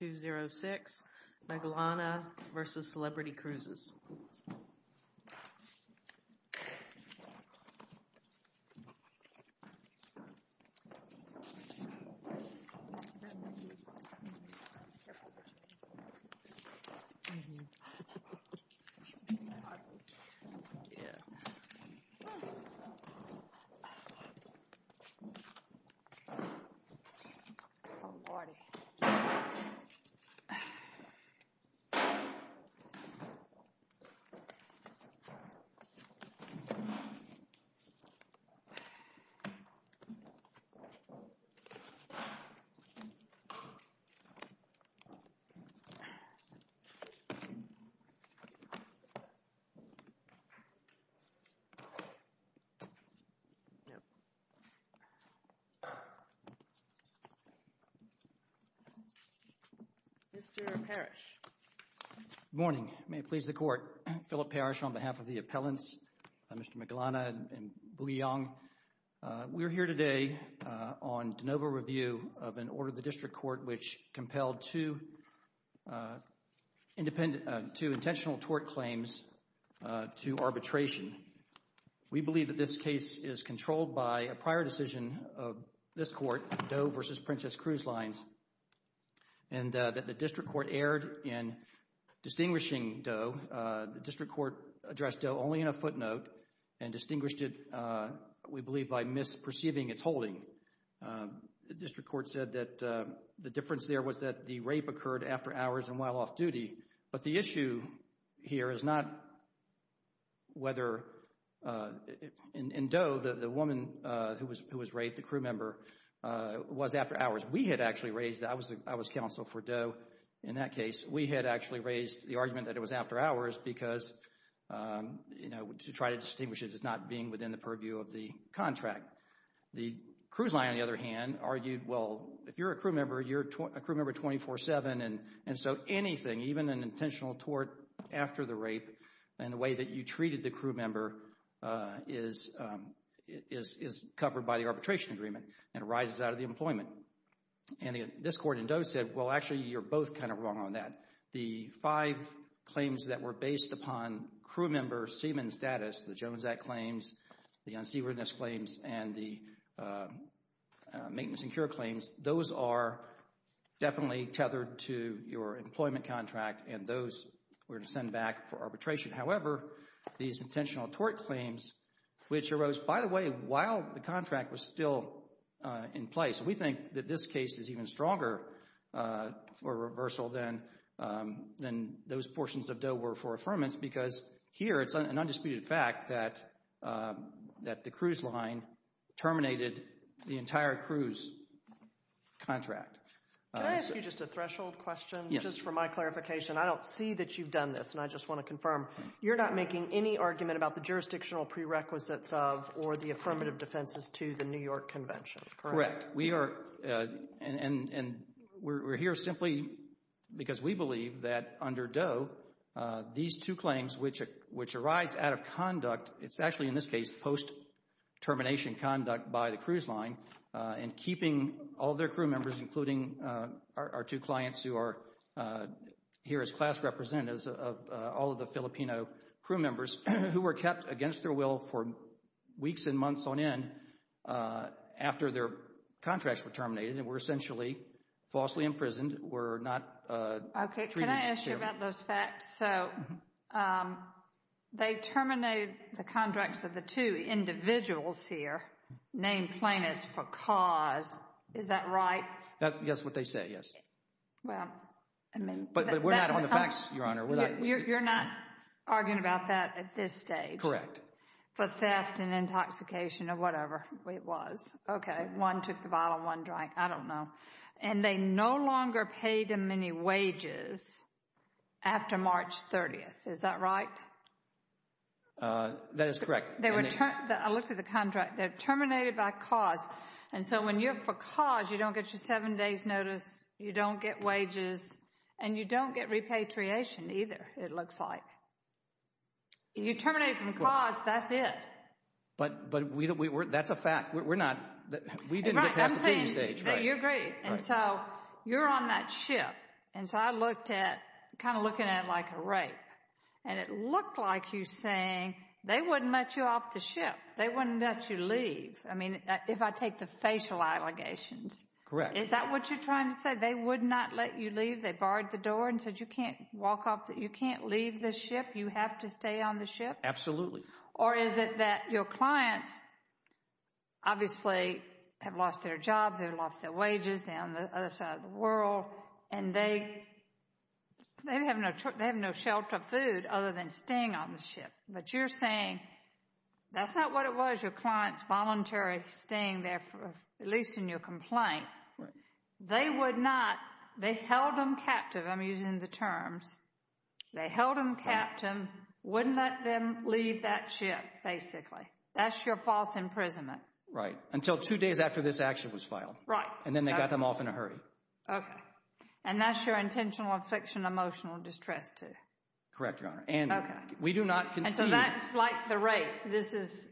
206 Maglana v. Celebrity Cruises 206 Maglana v. Celebrity Cruises Mr. Parrish Good morning. May it please the Court. Philip Parrish on behalf of the appellants, Mr. Maglana and Booyong. We're here today on de novo review of an order of the District Court which compelled two intentional tort claims to arbitration. We believe that this case is controlled by a prior decision of this Court, Doe v. Princess Cruise Lines. And that the District Court erred in distinguishing Doe. The District Court addressed Doe only in a footnote and distinguished it, we believe, by misperceiving its holding. The District Court said that the difference there was that the rape occurred after hours and while off duty. But the issue here is not whether, in Doe, the woman who was raped, the crew member, was after hours. We had actually raised, I was counsel for Doe in that case, we had actually raised the argument that it was after hours because, you know, to try to distinguish it as not being within the purview of the contract. The cruise line, on the other hand, argued, well, if you're a crew member, you're a crew member 24-7 and so anything, even an intentional tort after the rape and the way that you treated the crew member is covered by the arbitration agreement and arises out of the employment. And this Court in Doe said, well, actually, you're both kind of wrong on that. The five claims that were based upon crew member seaman status, the Jones Act claims, the unseaworthiness claims, and the maintenance and cure claims, those are definitely tethered to your employment contract and those were to send back for arbitration. However, these intentional tort claims, which arose, by the way, while the contract was still in place, we think that this case is even stronger for reversal than those portions of Doe were for affirmance because here it's an undisputed fact that the cruise line terminated the entire cruise contract. Can I ask you just a threshold question? Yes. Just for my clarification, I don't see that you've done this and I just want to confirm, you're not making any argument about the jurisdictional prerequisites of or the affirmative defenses to the New York Convention, correct? Correct. And we're here simply because we believe that under Doe, these two claims, which arise out of conduct, it's actually in this case post-termination conduct by the cruise line and keeping all their crew members, including our two clients who are here as class representatives of all of the Filipino crew members who were kept against their will for weeks and months on end after their contracts were terminated and were essentially falsely imprisoned, were not treated fairly. Okay, can I ask you about those facts? So they terminated the contracts of the two individuals here named plaintiffs for cause. Is that right? That's what they say, yes. But we're not on the facts, Your Honor. You're not arguing about that at this stage? Correct. For theft and intoxication or whatever it was. Okay, one took the bottle, one drank. I don't know. And they no longer paid them any wages after March 30th. Is that right? That is correct. I looked at the contract. They're terminated by cause. And so when you're for cause, you don't get your seven days' notice, you don't get wages, and you don't get repatriation either, it looks like. You terminate from cause, that's it. But that's a fact. We're not, we didn't get past the date stage. You're great. And so you're on that ship. And so I looked at, kind of looking at it like a rape. And it looked like you're saying they wouldn't let you off the ship. They wouldn't let you leave. I mean, if I take the facial allegations. Correct. Is that what you're trying to say? They would not let you leave? They barred the door and said you can't walk off, you can't leave the ship? You have to stay on the ship? Absolutely. Or is it that your clients obviously have lost their job, they've lost their wages, they're on the other side of the world, and they have no shelter of food other than staying on the ship. But you're saying that's not what it was, your client's voluntary staying there, at least in your complaint. They would not, they held them captive, I'm using the terms. They held them captive, wouldn't let them leave that ship, basically. That's your false imprisonment. Right. Until two days after this action was filed. Right. And then they got them off in a hurry. Okay. And that's your intentional affliction, emotional distress too. Correct, Your Honor. And we do not concede. And so that's like the rape. This is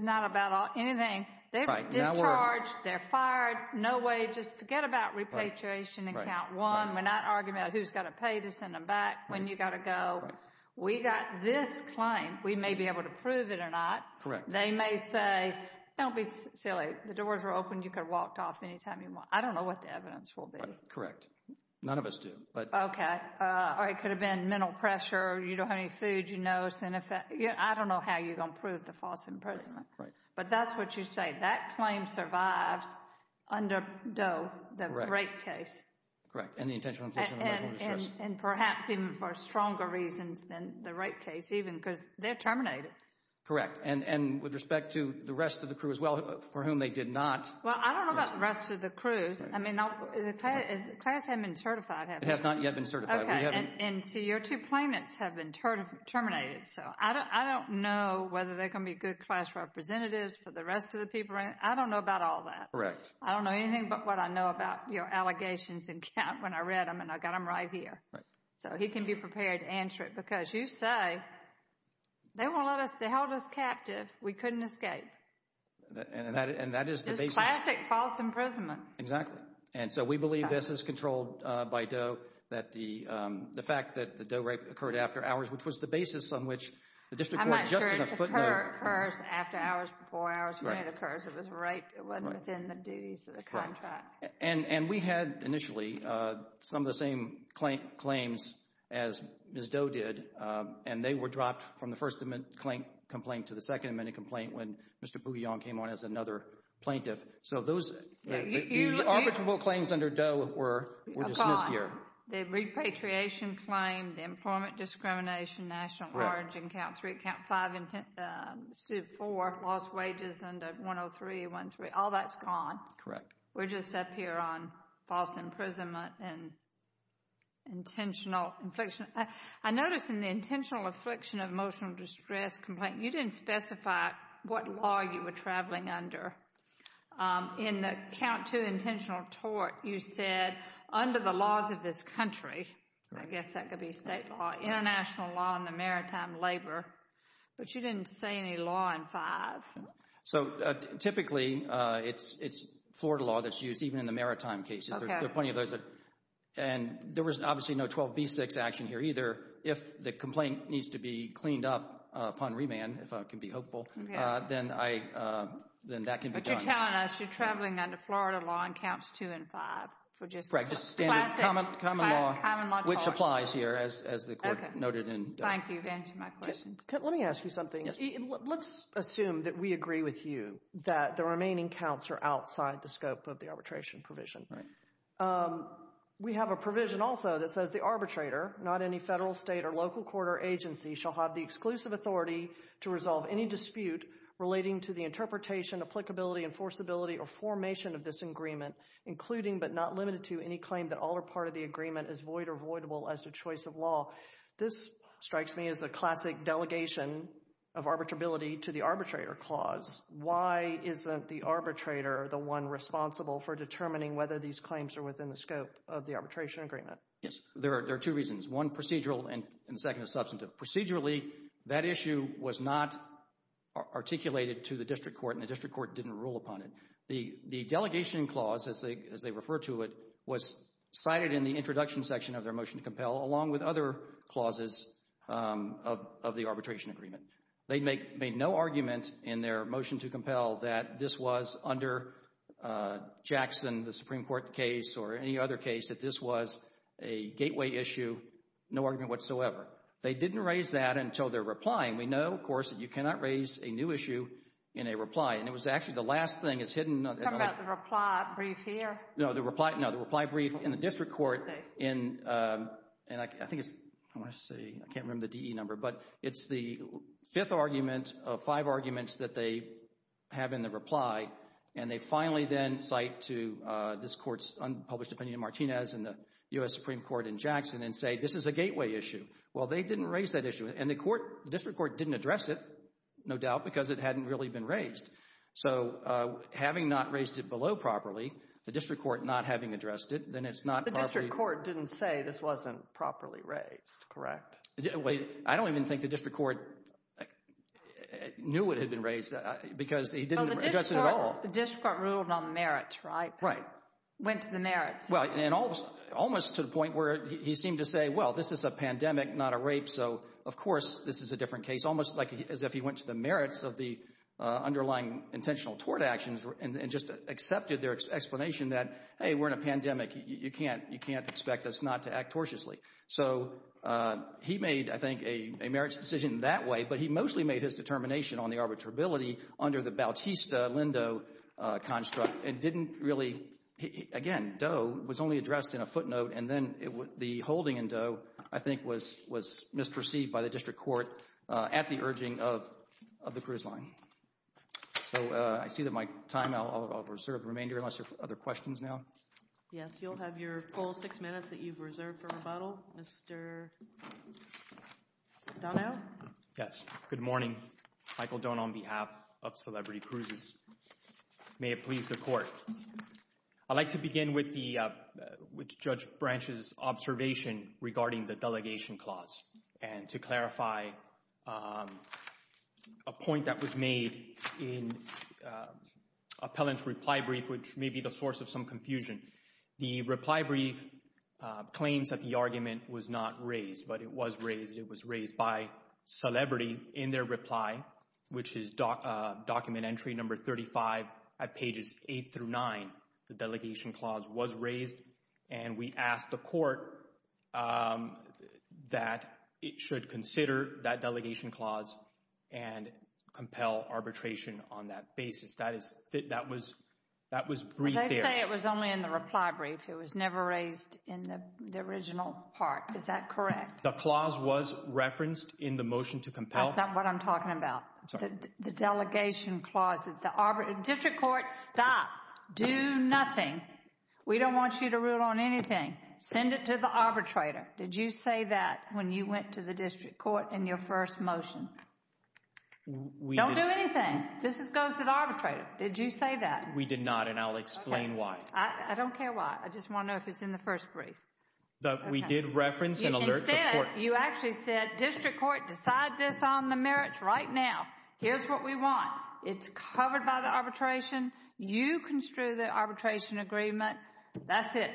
not about anything. They're discharged, they're fired, no wages, forget about repatriation in count one. We're not arguing about who's got to pay to send them back, when you've got to go. Right. We've got this claim, we may be able to prove it or not. Correct. They may say, don't be silly, the doors were open, you could have walked off any time you want. I don't know what the evidence will be. Correct. None of us do. Okay. Or it could have been mental pressure, you don't have any food, you know. I don't know how you're going to prove the false imprisonment. Right. But that's what you say. That claim survives under Doe, the rape case. Correct. And the intentional infliction of emotional distress. And perhaps even for stronger reasons than the rape case, even because they're terminated. Correct. And with respect to the rest of the crew as well, for whom they did not. Well, I don't know about the rest of the crews. I mean, the class hasn't been certified, has it? It has not yet been certified. Okay. And see, your two plaintiffs have been terminated. So I don't know whether they're going to be good class representatives for the rest of the people. I don't know about all that. Correct. I don't know anything but what I know about your allegations and count when I read them. And I got them right here. Right. So he can be prepared to answer it. Because you say, they held us captive. We couldn't escape. And that is the basis. It's classic false imprisonment. Exactly. And so we believe this is controlled by Doe, that the fact that the Doe rape occurred after hours, which was the basis on which the district court just in a footnote. I'm not sure it occurs after hours, before hours. When it occurs, it was rape. It wasn't within the duties of the contract. Right. And we had initially some of the same claims as Ms. Doe did, and they were dropped from the first complaint to the second amendment complaint when Mr. Bouillon came on as another plaintiff. So the arbitrable claims under Doe were dismissed here. Upon the repatriation claim, the employment discrimination, national origin, count three, count five, suit four, lost wages under 103, 103. All that's gone. Correct. We're just up here on false imprisonment and intentional affliction. I notice in the intentional affliction of emotional distress complaint, you didn't specify what law you were traveling under. In the count two intentional tort, you said, under the laws of this country, I guess that could be state law, international law, and the maritime labor, but you didn't say any law in five. So typically it's Florida law that's used even in the maritime cases. There are plenty of those. And there was obviously no 12b6 action here either. If the complaint needs to be cleaned up upon remand, if I can be hopeful, then that can be done. But you're telling us you're traveling under Florida law in counts two and five. Common law, which applies here, as the court noted. Thank you for answering my question. Let me ask you something. Let's assume that we agree with you that the remaining counts are outside the scope of the arbitration provision. We have a provision also that says the arbitrator, not any federal, state, or local court or agency, shall have the exclusive authority to resolve any dispute relating to the interpretation, applicability, enforceability, or formation of this agreement, including but not limited to any claim that all or part of the agreement is void or voidable as a choice of law. This strikes me as a classic delegation of arbitrability to the arbitrator clause. Why isn't the arbitrator the one responsible for determining whether these claims are within the scope of the arbitration agreement? Yes. There are two reasons. One, procedural, and the second is substantive. Procedurally, that issue was not articulated to the district court, and the district court didn't rule upon it. The delegation clause, as they refer to it, was cited in the introduction section of their motion to compel, along with other clauses of the arbitration agreement. They made no argument in their motion to compel that this was under Jackson, the Supreme Court case, or any other case, that this was a gateway issue, no argument whatsoever. They didn't raise that until their reply, and we know, of course, that you cannot raise a new issue in a reply, and it was actually the last thing that's hidden. You're talking about the reply brief here? No, the reply brief in the district court, and I think it's, I want to see, I can't remember the DE number, but it's the fifth argument of five arguments that they have in the reply, and they finally then cite to this court's unpublished opinion in Martinez and the U.S. Supreme Court in Jackson and say, this is a gateway issue. Well, they didn't raise that issue, and the district court didn't address it, no doubt, because it hadn't really been raised. So having not raised it below properly, the district court not having addressed it, then it's not properly. The district court didn't say this wasn't properly raised, correct? I don't even think the district court knew it had been raised, because he didn't address it at all. The district court ruled on the merits, right? Right. Went to the merits. Well, and almost to the point where he seemed to say, well, this is a pandemic, not a rape, so, of course, this is a different case, almost as if he went to the merits of the underlying intentional tort actions and just accepted their explanation that, hey, we're in a pandemic, you can't expect us not to act tortiously. So he made, I think, a merits decision that way, but he mostly made his determination on the arbitrability under the Bautista-Lindo construct and didn't really, again, Doe was only addressed in a footnote, and then the holding in Doe, I think, was misperceived by the district court at the urging of the cruise line. So I see that my time, I'll reserve the remainder unless there are other questions now. Yes, you'll have your full six minutes that you've reserved for rebuttal. Mr. Donao? Yes, good morning. Michael Donao on behalf of Celebrity Cruises. May it please the court. I'd like to begin with Judge Branch's observation regarding the delegation clause and to clarify a point that was made in Appellant's reply brief, which may be the source of some confusion. The reply brief claims that the argument was not raised, but it was raised. By Celebrity, in their reply, which is document entry number 35, at pages 8 through 9, the delegation clause was raised, and we asked the court that it should consider that delegation clause and compel arbitration on that basis. That was briefed there. They say it was only in the reply brief. It was never raised in the original part. Is that correct? The clause was referenced in the motion to compel. That's not what I'm talking about. The delegation clause. District Court, stop. Do nothing. We don't want you to rule on anything. Send it to the arbitrator. Did you say that when you went to the District Court in your first motion? Don't do anything. This goes to the arbitrator. Did you say that? We did not, and I'll explain why. I don't care why. I just want to know if it's in the first brief. We did reference and alert the court. Instead, you actually said, District Court, decide this on the merits right now. Here's what we want. It's covered by the arbitration. You construe the arbitration agreement. That's it.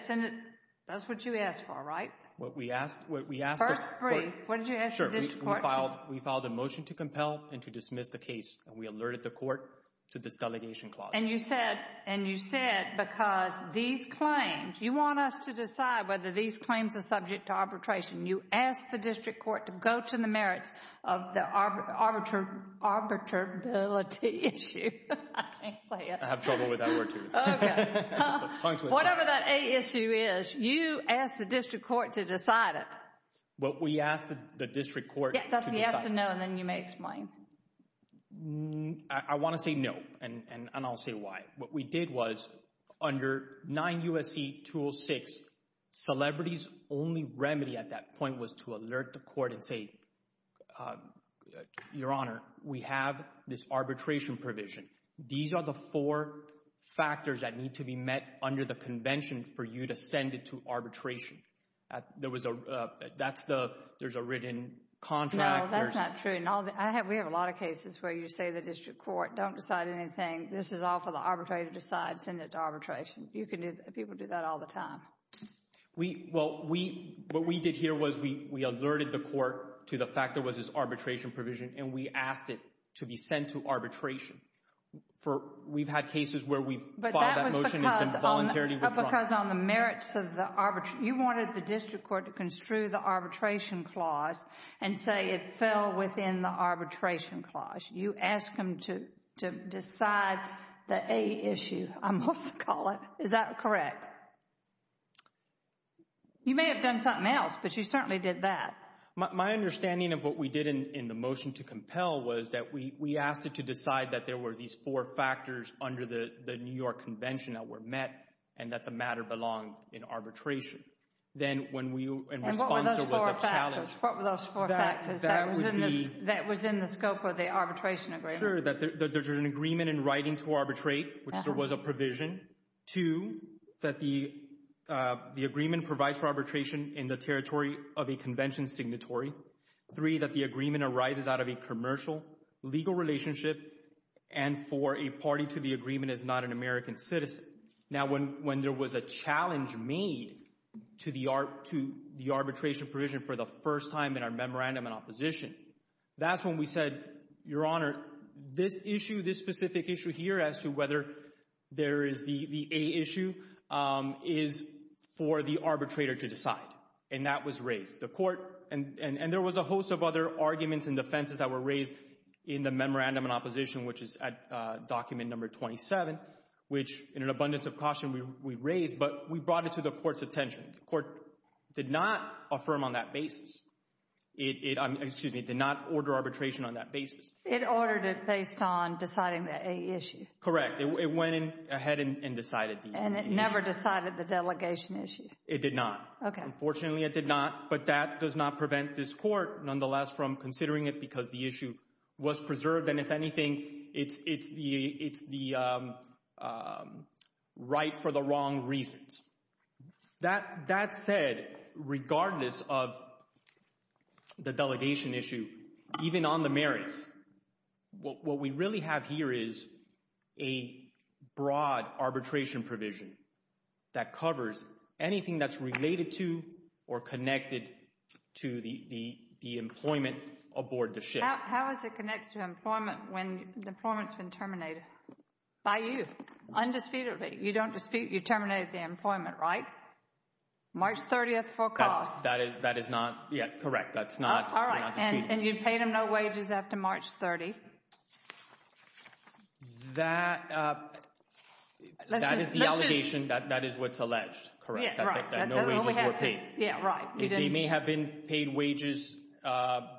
That's what you asked for, right? First brief, what did you ask the District Court? We filed a motion to compel and to dismiss the case, and we alerted the court to this delegation clause. And you said, because these claims, you want us to decide whether these claims are subject to arbitration. You asked the District Court to go to the merits of the arbitrability issue. I can't say it. I have trouble with that word, too. Okay. It's a tongue twister. Whatever that issue is, you asked the District Court to decide it. Well, we asked the District Court to decide it. Yes and no, and then you may explain. I want to say no, and I'll say why. What we did was, under 9 U.S.C. 206, celebrities' only remedy at that point was to alert the court and say, Your Honor, we have this arbitration provision. These are the four factors that need to be met under the convention for you to send it to arbitration. There's a written contract. No, that's not true. We have a lot of cases where you say to the District Court, Don't decide anything. This is all for the arbitrator to decide. Send it to arbitration. You can do that. People do that all the time. Well, what we did here was we alerted the court to the fact there was this arbitration provision, and we asked it to be sent to arbitration. We've had cases where we've filed that motion and it's been voluntarily withdrawn. Because on the merits of the arbitration, you wanted the District Court to construe the arbitration clause and say it fell within the arbitration clause. You asked them to decide the A issue, I must call it. Is that correct? You may have done something else, but you certainly did that. My understanding of what we did in the motion to compel was that we asked it to decide that there were these four factors under the New York Convention that were met and that the matter belonged in arbitration. Then when we, in response, there was a challenge. And what were those four factors? That was in the scope of the arbitration agreement. Sure, that there's an agreement in writing to arbitrate, which there was a provision. Two, that the agreement provides for arbitration in the territory of a convention signatory. Three, that the agreement arises out of a commercial legal relationship. And four, a party to the agreement is not an American citizen. Now, when there was a challenge made to the arbitration provision for the first time in our memorandum in opposition, that's when we said, Your Honor, this issue, this specific issue here as to whether there is the A issue is for the arbitrator to decide. And that was raised. The court, and there was a host of other arguments and defenses that were raised in the memorandum in opposition, which is at document number 27, which in an abundance of caution we raised, but we brought it to the court's attention. The court did not affirm on that basis. Excuse me, it did not order arbitration on that basis. It ordered it based on deciding the A issue. Correct. It went ahead and decided the A issue. And it never decided the delegation issue. It did not. Okay. Unfortunately, it did not. But that does not prevent this court, nonetheless, from considering it because the issue was preserved. And if anything, it's the right for the wrong reasons. That said, regardless of the delegation issue, even on the merits, what we really have here is a broad arbitration provision that covers anything that's related to or connected to the employment aboard the ship. How is it connected to employment when the employment's been terminated? By you. Undisputedly. You don't dispute you terminated the employment, right? March 30th forecast. That is not correct. All right. And you paid them no wages after March 30th. That is the allegation. That is what's alleged, correct, that no wages were paid. Yeah, right. They may have been paid wages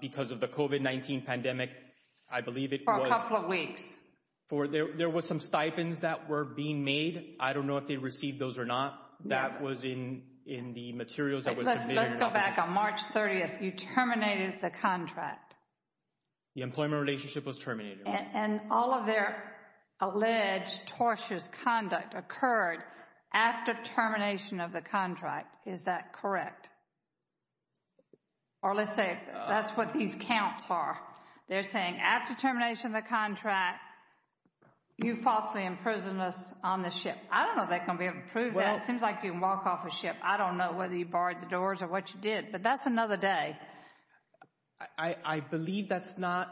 because of the COVID-19 pandemic, I believe it was. For a couple of weeks. There was some stipends that were being made. I don't know if they received those or not. That was in the materials that was submitted. Let's go back on March 30th. You terminated the contract. The employment relationship was terminated. And all of their alleged tortious conduct occurred after termination of the contract. Is that correct? Or let's say that's what these counts are. They're saying after termination of the contract, you falsely imprisoned us on the ship. I don't know if they're going to be able to prove that. It seems like you can walk off a ship. I don't know whether you barred the doors or what you did. But that's another day. I believe that's not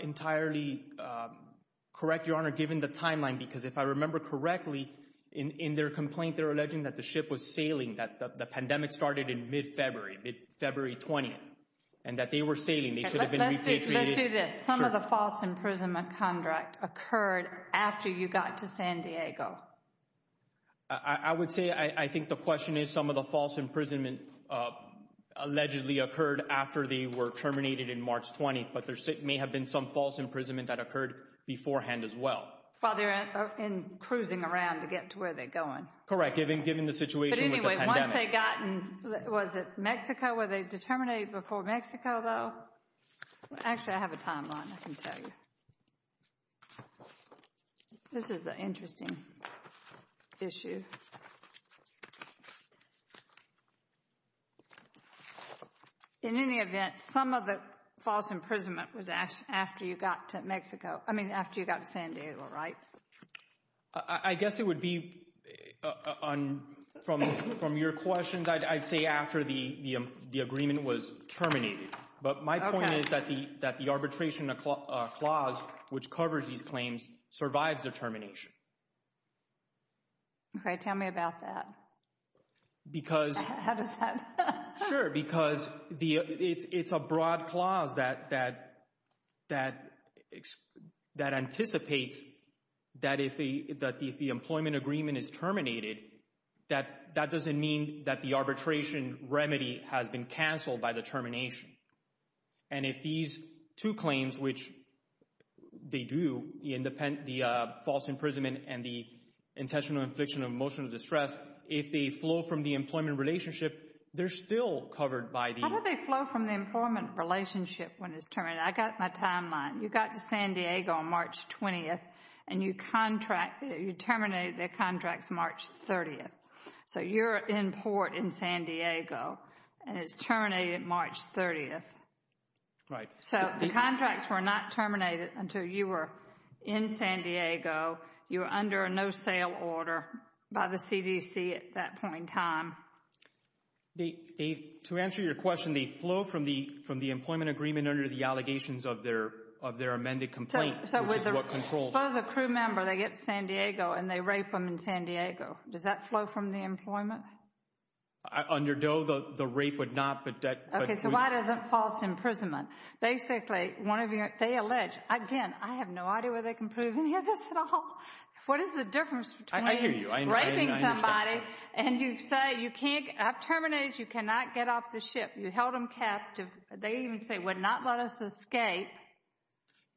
entirely correct, Your Honor, given the timeline. Because if I remember correctly, in their complaint, they're alleging that the ship was sailing, that the pandemic started in mid-February, mid-February 20th, and that they were sailing. They should have been repatriated. Let's do this. Some of the false imprisonment contract occurred after you got to San Diego. I would say I think the question is some of the false imprisonment allegedly occurred after they were terminated in March 20th. But there may have been some false imprisonment that occurred beforehand as well. While they're cruising around to get to where they're going. Correct, given the situation with the pandemic. But anyway, once they got in, was it Mexico? Were they terminated before Mexico, though? Actually, I have a timeline. I can tell you. This is an interesting issue. In any event, some of the false imprisonment was after you got to Mexico. I mean, after you got to San Diego, right? I guess it would be, from your questions, I'd say after the agreement was terminated. But my point is that the arbitration clause, which covers these claims, survives the termination. OK, tell me about that. How does that? Sure, because it's a broad clause that anticipates that if the employment agreement is terminated, the arbitration remedy has been canceled by the termination. And if these two claims, which they do, the false imprisonment and the intentional infliction of emotional distress, if they flow from the employment relationship, they're still covered by the— How do they flow from the employment relationship when it's terminated? I got my timeline. You got to San Diego on March 20th, and you terminated their contracts March 30th. So you're in port in San Diego, and it's terminated March 30th. Right. So the contracts were not terminated until you were in San Diego. You were under a no-sale order by the CDC at that point in time. To answer your question, they flow from the employment agreement under the allegations of their amended complaint, which is what controls— So suppose a crew member, they get to San Diego, and they rape them in San Diego. Does that flow from the employment? Under Doe, the rape would not, but— Okay, so why doesn't false imprisonment? Basically, one of your—they allege—again, I have no idea where they can prove any of this at all. What is the difference between raping somebody and you say you can't—I've terminated, you cannot get off the ship. You held them captive. They even say would not let us escape.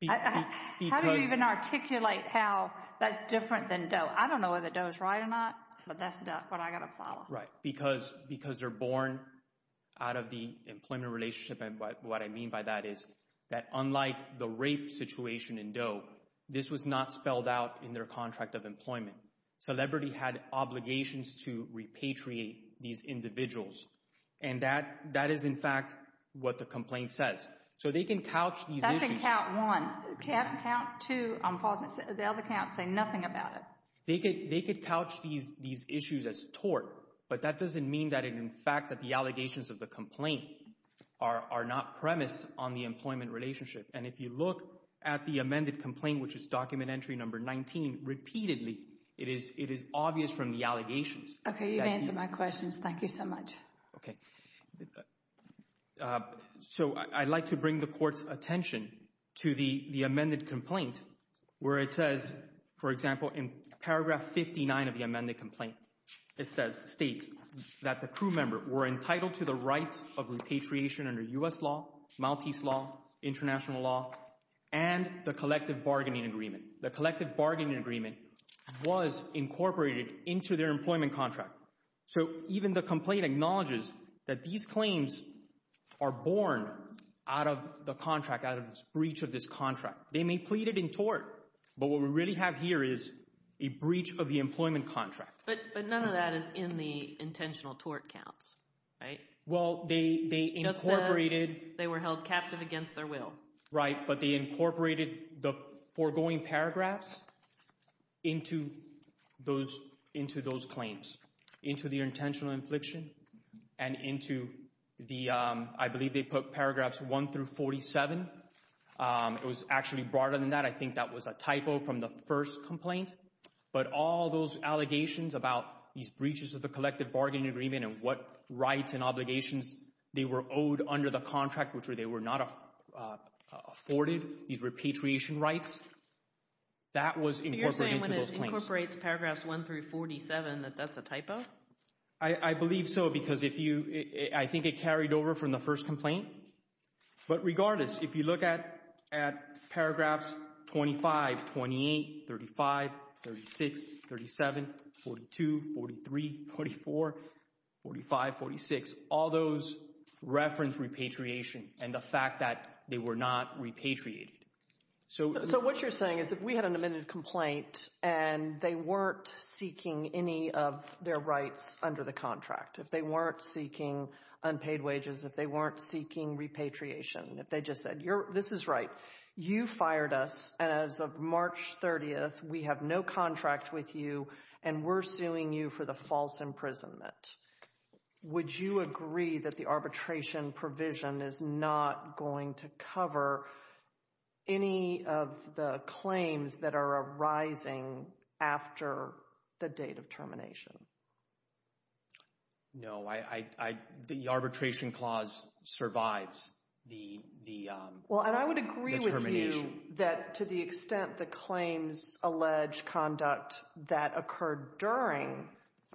How do you even articulate how that's different than Doe? I don't know whether Doe is right or not, but that's what I've got to follow. Right, because they're born out of the employment relationship, and what I mean by that is that, unlike the rape situation in Doe, this was not spelled out in their contract of employment. Celebrity had obligations to repatriate these individuals, and that is, in fact, what the complaint says. So they can couch these issues— That's in count one. Count two on false imprisonment. The other counts say nothing about it. They could couch these issues as tort, but that doesn't mean that, in fact, that the allegations of the complaint are not premised on the employment relationship. And if you look at the amended complaint, which is document entry number 19, repeatedly it is obvious from the allegations— Okay, you've answered my questions. Thank you so much. Okay. So I'd like to bring the Court's attention to the amended complaint, where it says, for example, in paragraph 59 of the amended complaint, it states that the crew member were entitled to the rights of repatriation under U.S. law, Maltese law, international law, and the collective bargaining agreement. The collective bargaining agreement was incorporated into their employment contract. So even the complaint acknowledges that these claims are born out of the contract, out of this breach of this contract. They may plead it in tort, but what we really have here is a breach of the employment contract. But none of that is in the intentional tort counts, right? Well, they incorporated— It just says they were held captive against their will. Right, but they incorporated the foregoing paragraphs into those claims, into the intentional infliction, and into the— I believe they put paragraphs 1 through 47. It was actually broader than that. I think that was a typo from the first complaint. But all those allegations about these breaches of the collective bargaining agreement and what rights and obligations they were owed under the contract, which they were not afforded, these repatriation rights, that was incorporated into those claims. You're saying when it incorporates paragraphs 1 through 47 that that's a typo? I believe so because if you— I think it carried over from the first complaint. But regardless, if you look at paragraphs 25, 28, 35, 36, 37, 42, 43, 44, 45, 46, all those reference repatriation and the fact that they were not repatriated. So what you're saying is if we had an amended complaint and they weren't seeking any of their rights under the contract, if they weren't seeking unpaid wages, if they weren't seeking repatriation, if they just said, this is right, you fired us as of March 30th, we have no contract with you, and we're suing you for the false imprisonment. Would you agree that the arbitration provision is not going to cover any of the claims that are arising after the date of termination? No. The arbitration clause survives the termination. Well, and I would agree with you that to the extent the claims allege conduct that occurred during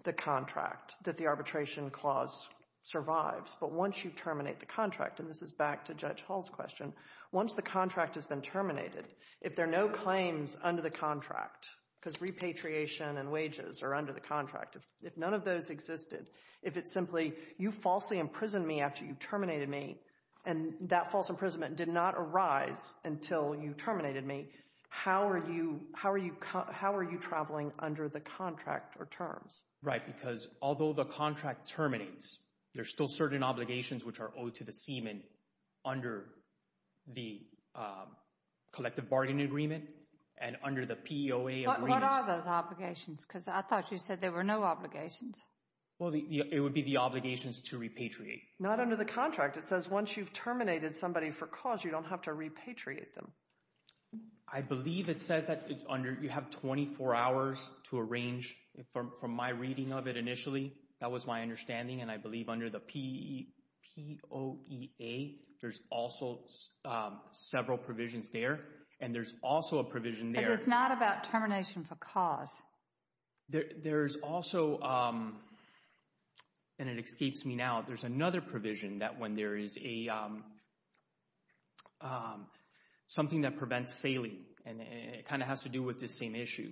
the contract, that the arbitration clause survives. But once you terminate the contract, and this is back to Judge Hall's question, once the contract has been terminated, if there are no claims under the contract, because repatriation and wages are under the contract, if none of those existed, if it's simply, you falsely imprisoned me after you terminated me and that false imprisonment did not arise until you terminated me, how are you traveling under the contract or terms? Right, because although the contract terminates, there are still certain obligations which are owed to the seaman under the collective bargaining agreement and under the PEOA agreement. What are those obligations? Because I thought you said there were no obligations. Well, it would be the obligations to repatriate. Not under the contract. It says once you've terminated somebody for cause, you don't have to repatriate them. I believe it says that you have 24 hours to arrange from my reading of it initially. That was my understanding, and I believe under the PEOA, there's also several provisions there, and there's also a provision there. But it's not about termination for cause. There's also, and it escapes me now, there's another provision that when there is a, something that prevents sailing, and it kind of has to do with this same issue,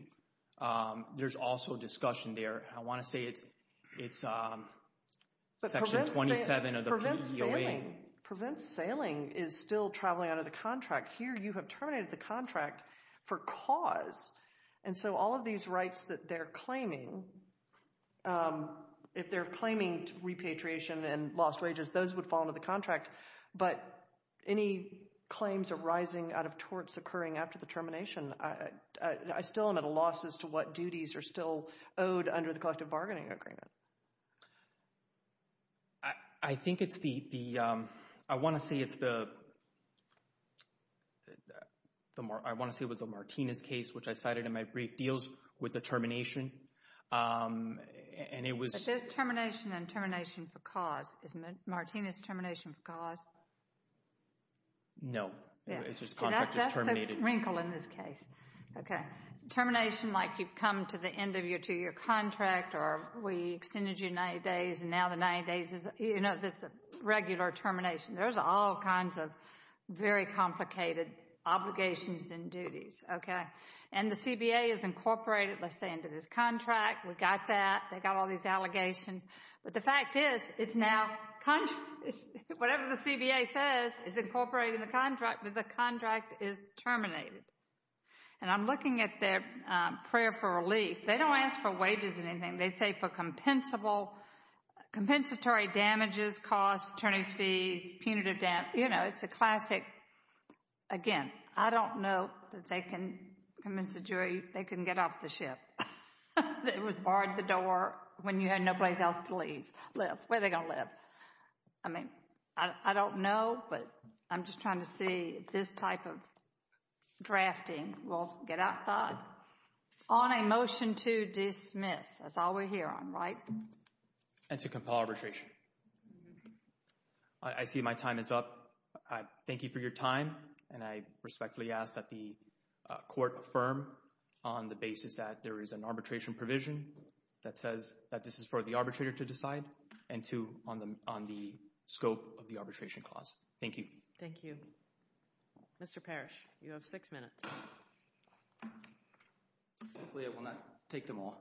there's also discussion there. I want to say it's Section 27 of the PEOA. Prevents sailing is still traveling under the contract. Here you have terminated the contract for cause, and so all of these rights that they're claiming, if they're claiming repatriation and lost wages, those would fall under the contract. But any claims arising out of torts occurring after the termination, I still am at a loss as to what duties are still owed under the collective bargaining agreement. I think it's the, I want to say it's the, I want to say it was the Martinez case, which I cited in my brief, deals with the termination, and it was... But there's termination and termination for cause. Is Martinez termination for cause? No, it's just contract is terminated. That's the wrinkle in this case. Okay. Termination like you've come to the end of your two-year contract or we extended you 90 days, and now the 90 days is this regular termination. There's all kinds of very complicated obligations and duties. Okay. And the CBA is incorporated, let's say, into this contract. We've got that. They've got all these allegations. But the fact is, it's now, whatever the CBA says is incorporated in the contract, but the contract is terminated. And I'm looking at their prayer for relief. They don't ask for wages or anything. They say for compensatory damages, costs, attorney's fees, punitive damages. You know, it's a classic, again, I don't know that they can convince a jury they can get off the ship. It was barred the door when you had no place else to live. Where are they going to live? I mean, I don't know, but I'm just trying to see if this type of drafting will get outside. On a motion to dismiss. That's all we're here on, right? And to compel arbitration. I see my time is up. I thank you for your time, and I respectfully ask that the court affirm on the basis that there is an arbitration provision that says that this is for the arbitrator to decide and two, on the scope of the arbitration clause. Thank you. Thank you. Mr. Parrish, you have six minutes. Hopefully I will not take them all.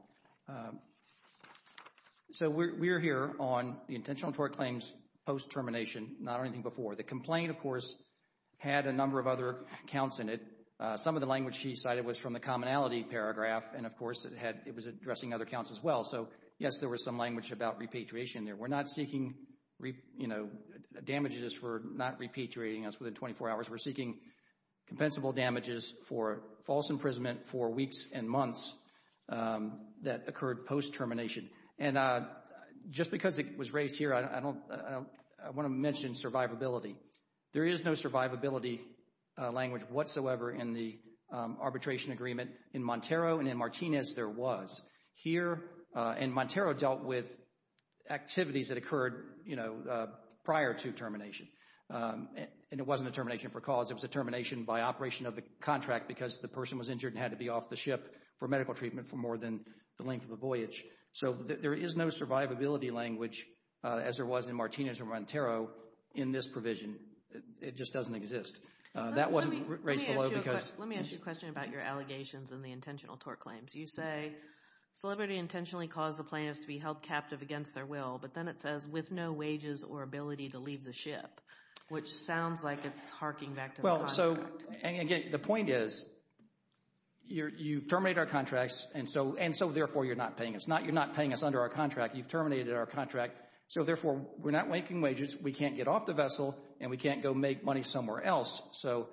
So we're here on the intentional tort claims post-termination, not anything before. The complaint, of course, had a number of other counts in it. Some of the language she cited was from the commonality paragraph, and, of course, it was addressing other counts as well. So, yes, there was some language about repatriation there. We're not seeking damages for not repatriating us within 24 hours. We're seeking compensable damages for false imprisonment for weeks and months that occurred post-termination. And just because it was raised here, I want to mention survivability. There is no survivability language whatsoever in the arbitration agreement. In Montero and in Martinez, there was. Here in Montero dealt with activities that occurred prior to termination, and it wasn't a termination for cause. It was a termination by operation of the contract because the person was injured and had to be off the ship for medical treatment for more than the length of the voyage. So there is no survivability language, as there was in Martinez and Montero, in this provision. It just doesn't exist. That wasn't raised below because— Let me ask you a question about your allegations and the intentional tort claims. You say, celebrity intentionally caused the plaintiffs to be held captive against their will, but then it says, with no wages or ability to leave the ship, which sounds like it's harking back to the contract. Well, so, and again, the point is you've terminated our contracts, and so therefore you're not paying us. You're not paying us under our contract. You've terminated our contract, so therefore we're not making wages, we can't get off the vessel, and we can't go make money somewhere else. So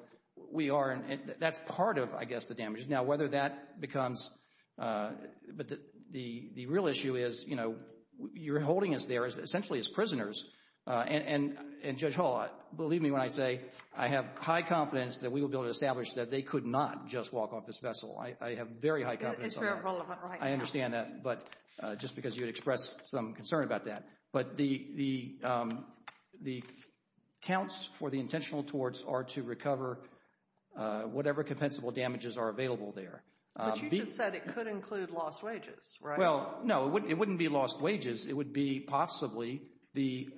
we are—that's part of, I guess, the damages. Now, whether that becomes—but the real issue is, you know, you're holding us there essentially as prisoners, and Judge Hall, believe me when I say I have high confidence that we will be able to establish that they could not just walk off this vessel. I have very high confidence on that. It's very relevant, right. I understand that, but just because you had expressed some concern about that. But the counts for the intentional torts are to recover whatever compensable damages are available there. But you just said it could include lost wages, right? Well, no, it wouldn't be lost wages. It would be possibly the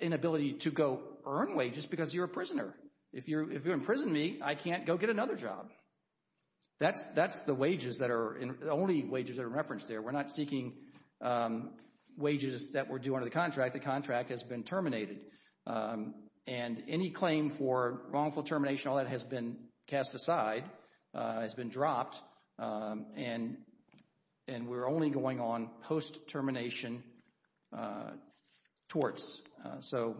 inability to go earn wages because you're a prisoner. If you imprison me, I can't go get another job. That's the wages that are—the only wages that are referenced there. We're not seeking wages that were due under the contract. The contract has been terminated. And any claim for wrongful termination, all that has been cast aside, has been dropped, and we're only going on post-termination torts. So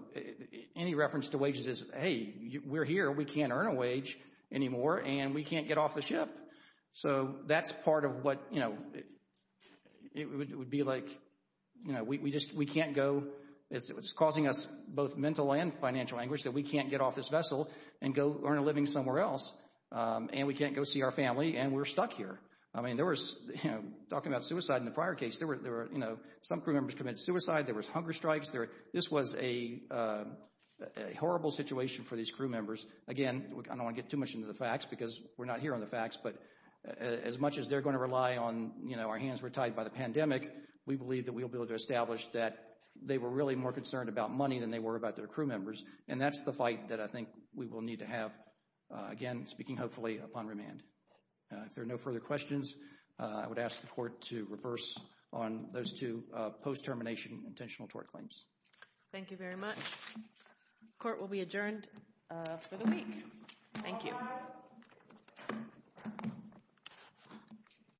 any reference to wages is, hey, we're here, we can't earn a wage anymore, and we can't get off the ship. So that's part of what—it would be like we can't go—it's causing us both mental and financial anguish that we can't get off this vessel and go earn a living somewhere else, and we can't go see our family, and we're stuck here. I mean, there was—talking about suicide in the prior case, some crew members committed suicide. There was hunger strikes. This was a horrible situation for these crew members. Again, I don't want to get too much into the facts because we're not here on the facts, but as much as they're going to rely on, you know, our hands were tied by the pandemic, we believe that we'll be able to establish that they were really more concerned about money than they were about their crew members, and that's the fight that I think we will need to have, again, speaking hopefully upon remand. If there are no further questions, I would ask the Court to reverse on those two post-termination intentional tort claims. Thank you very much. Court will be adjourned for the week. Thank you.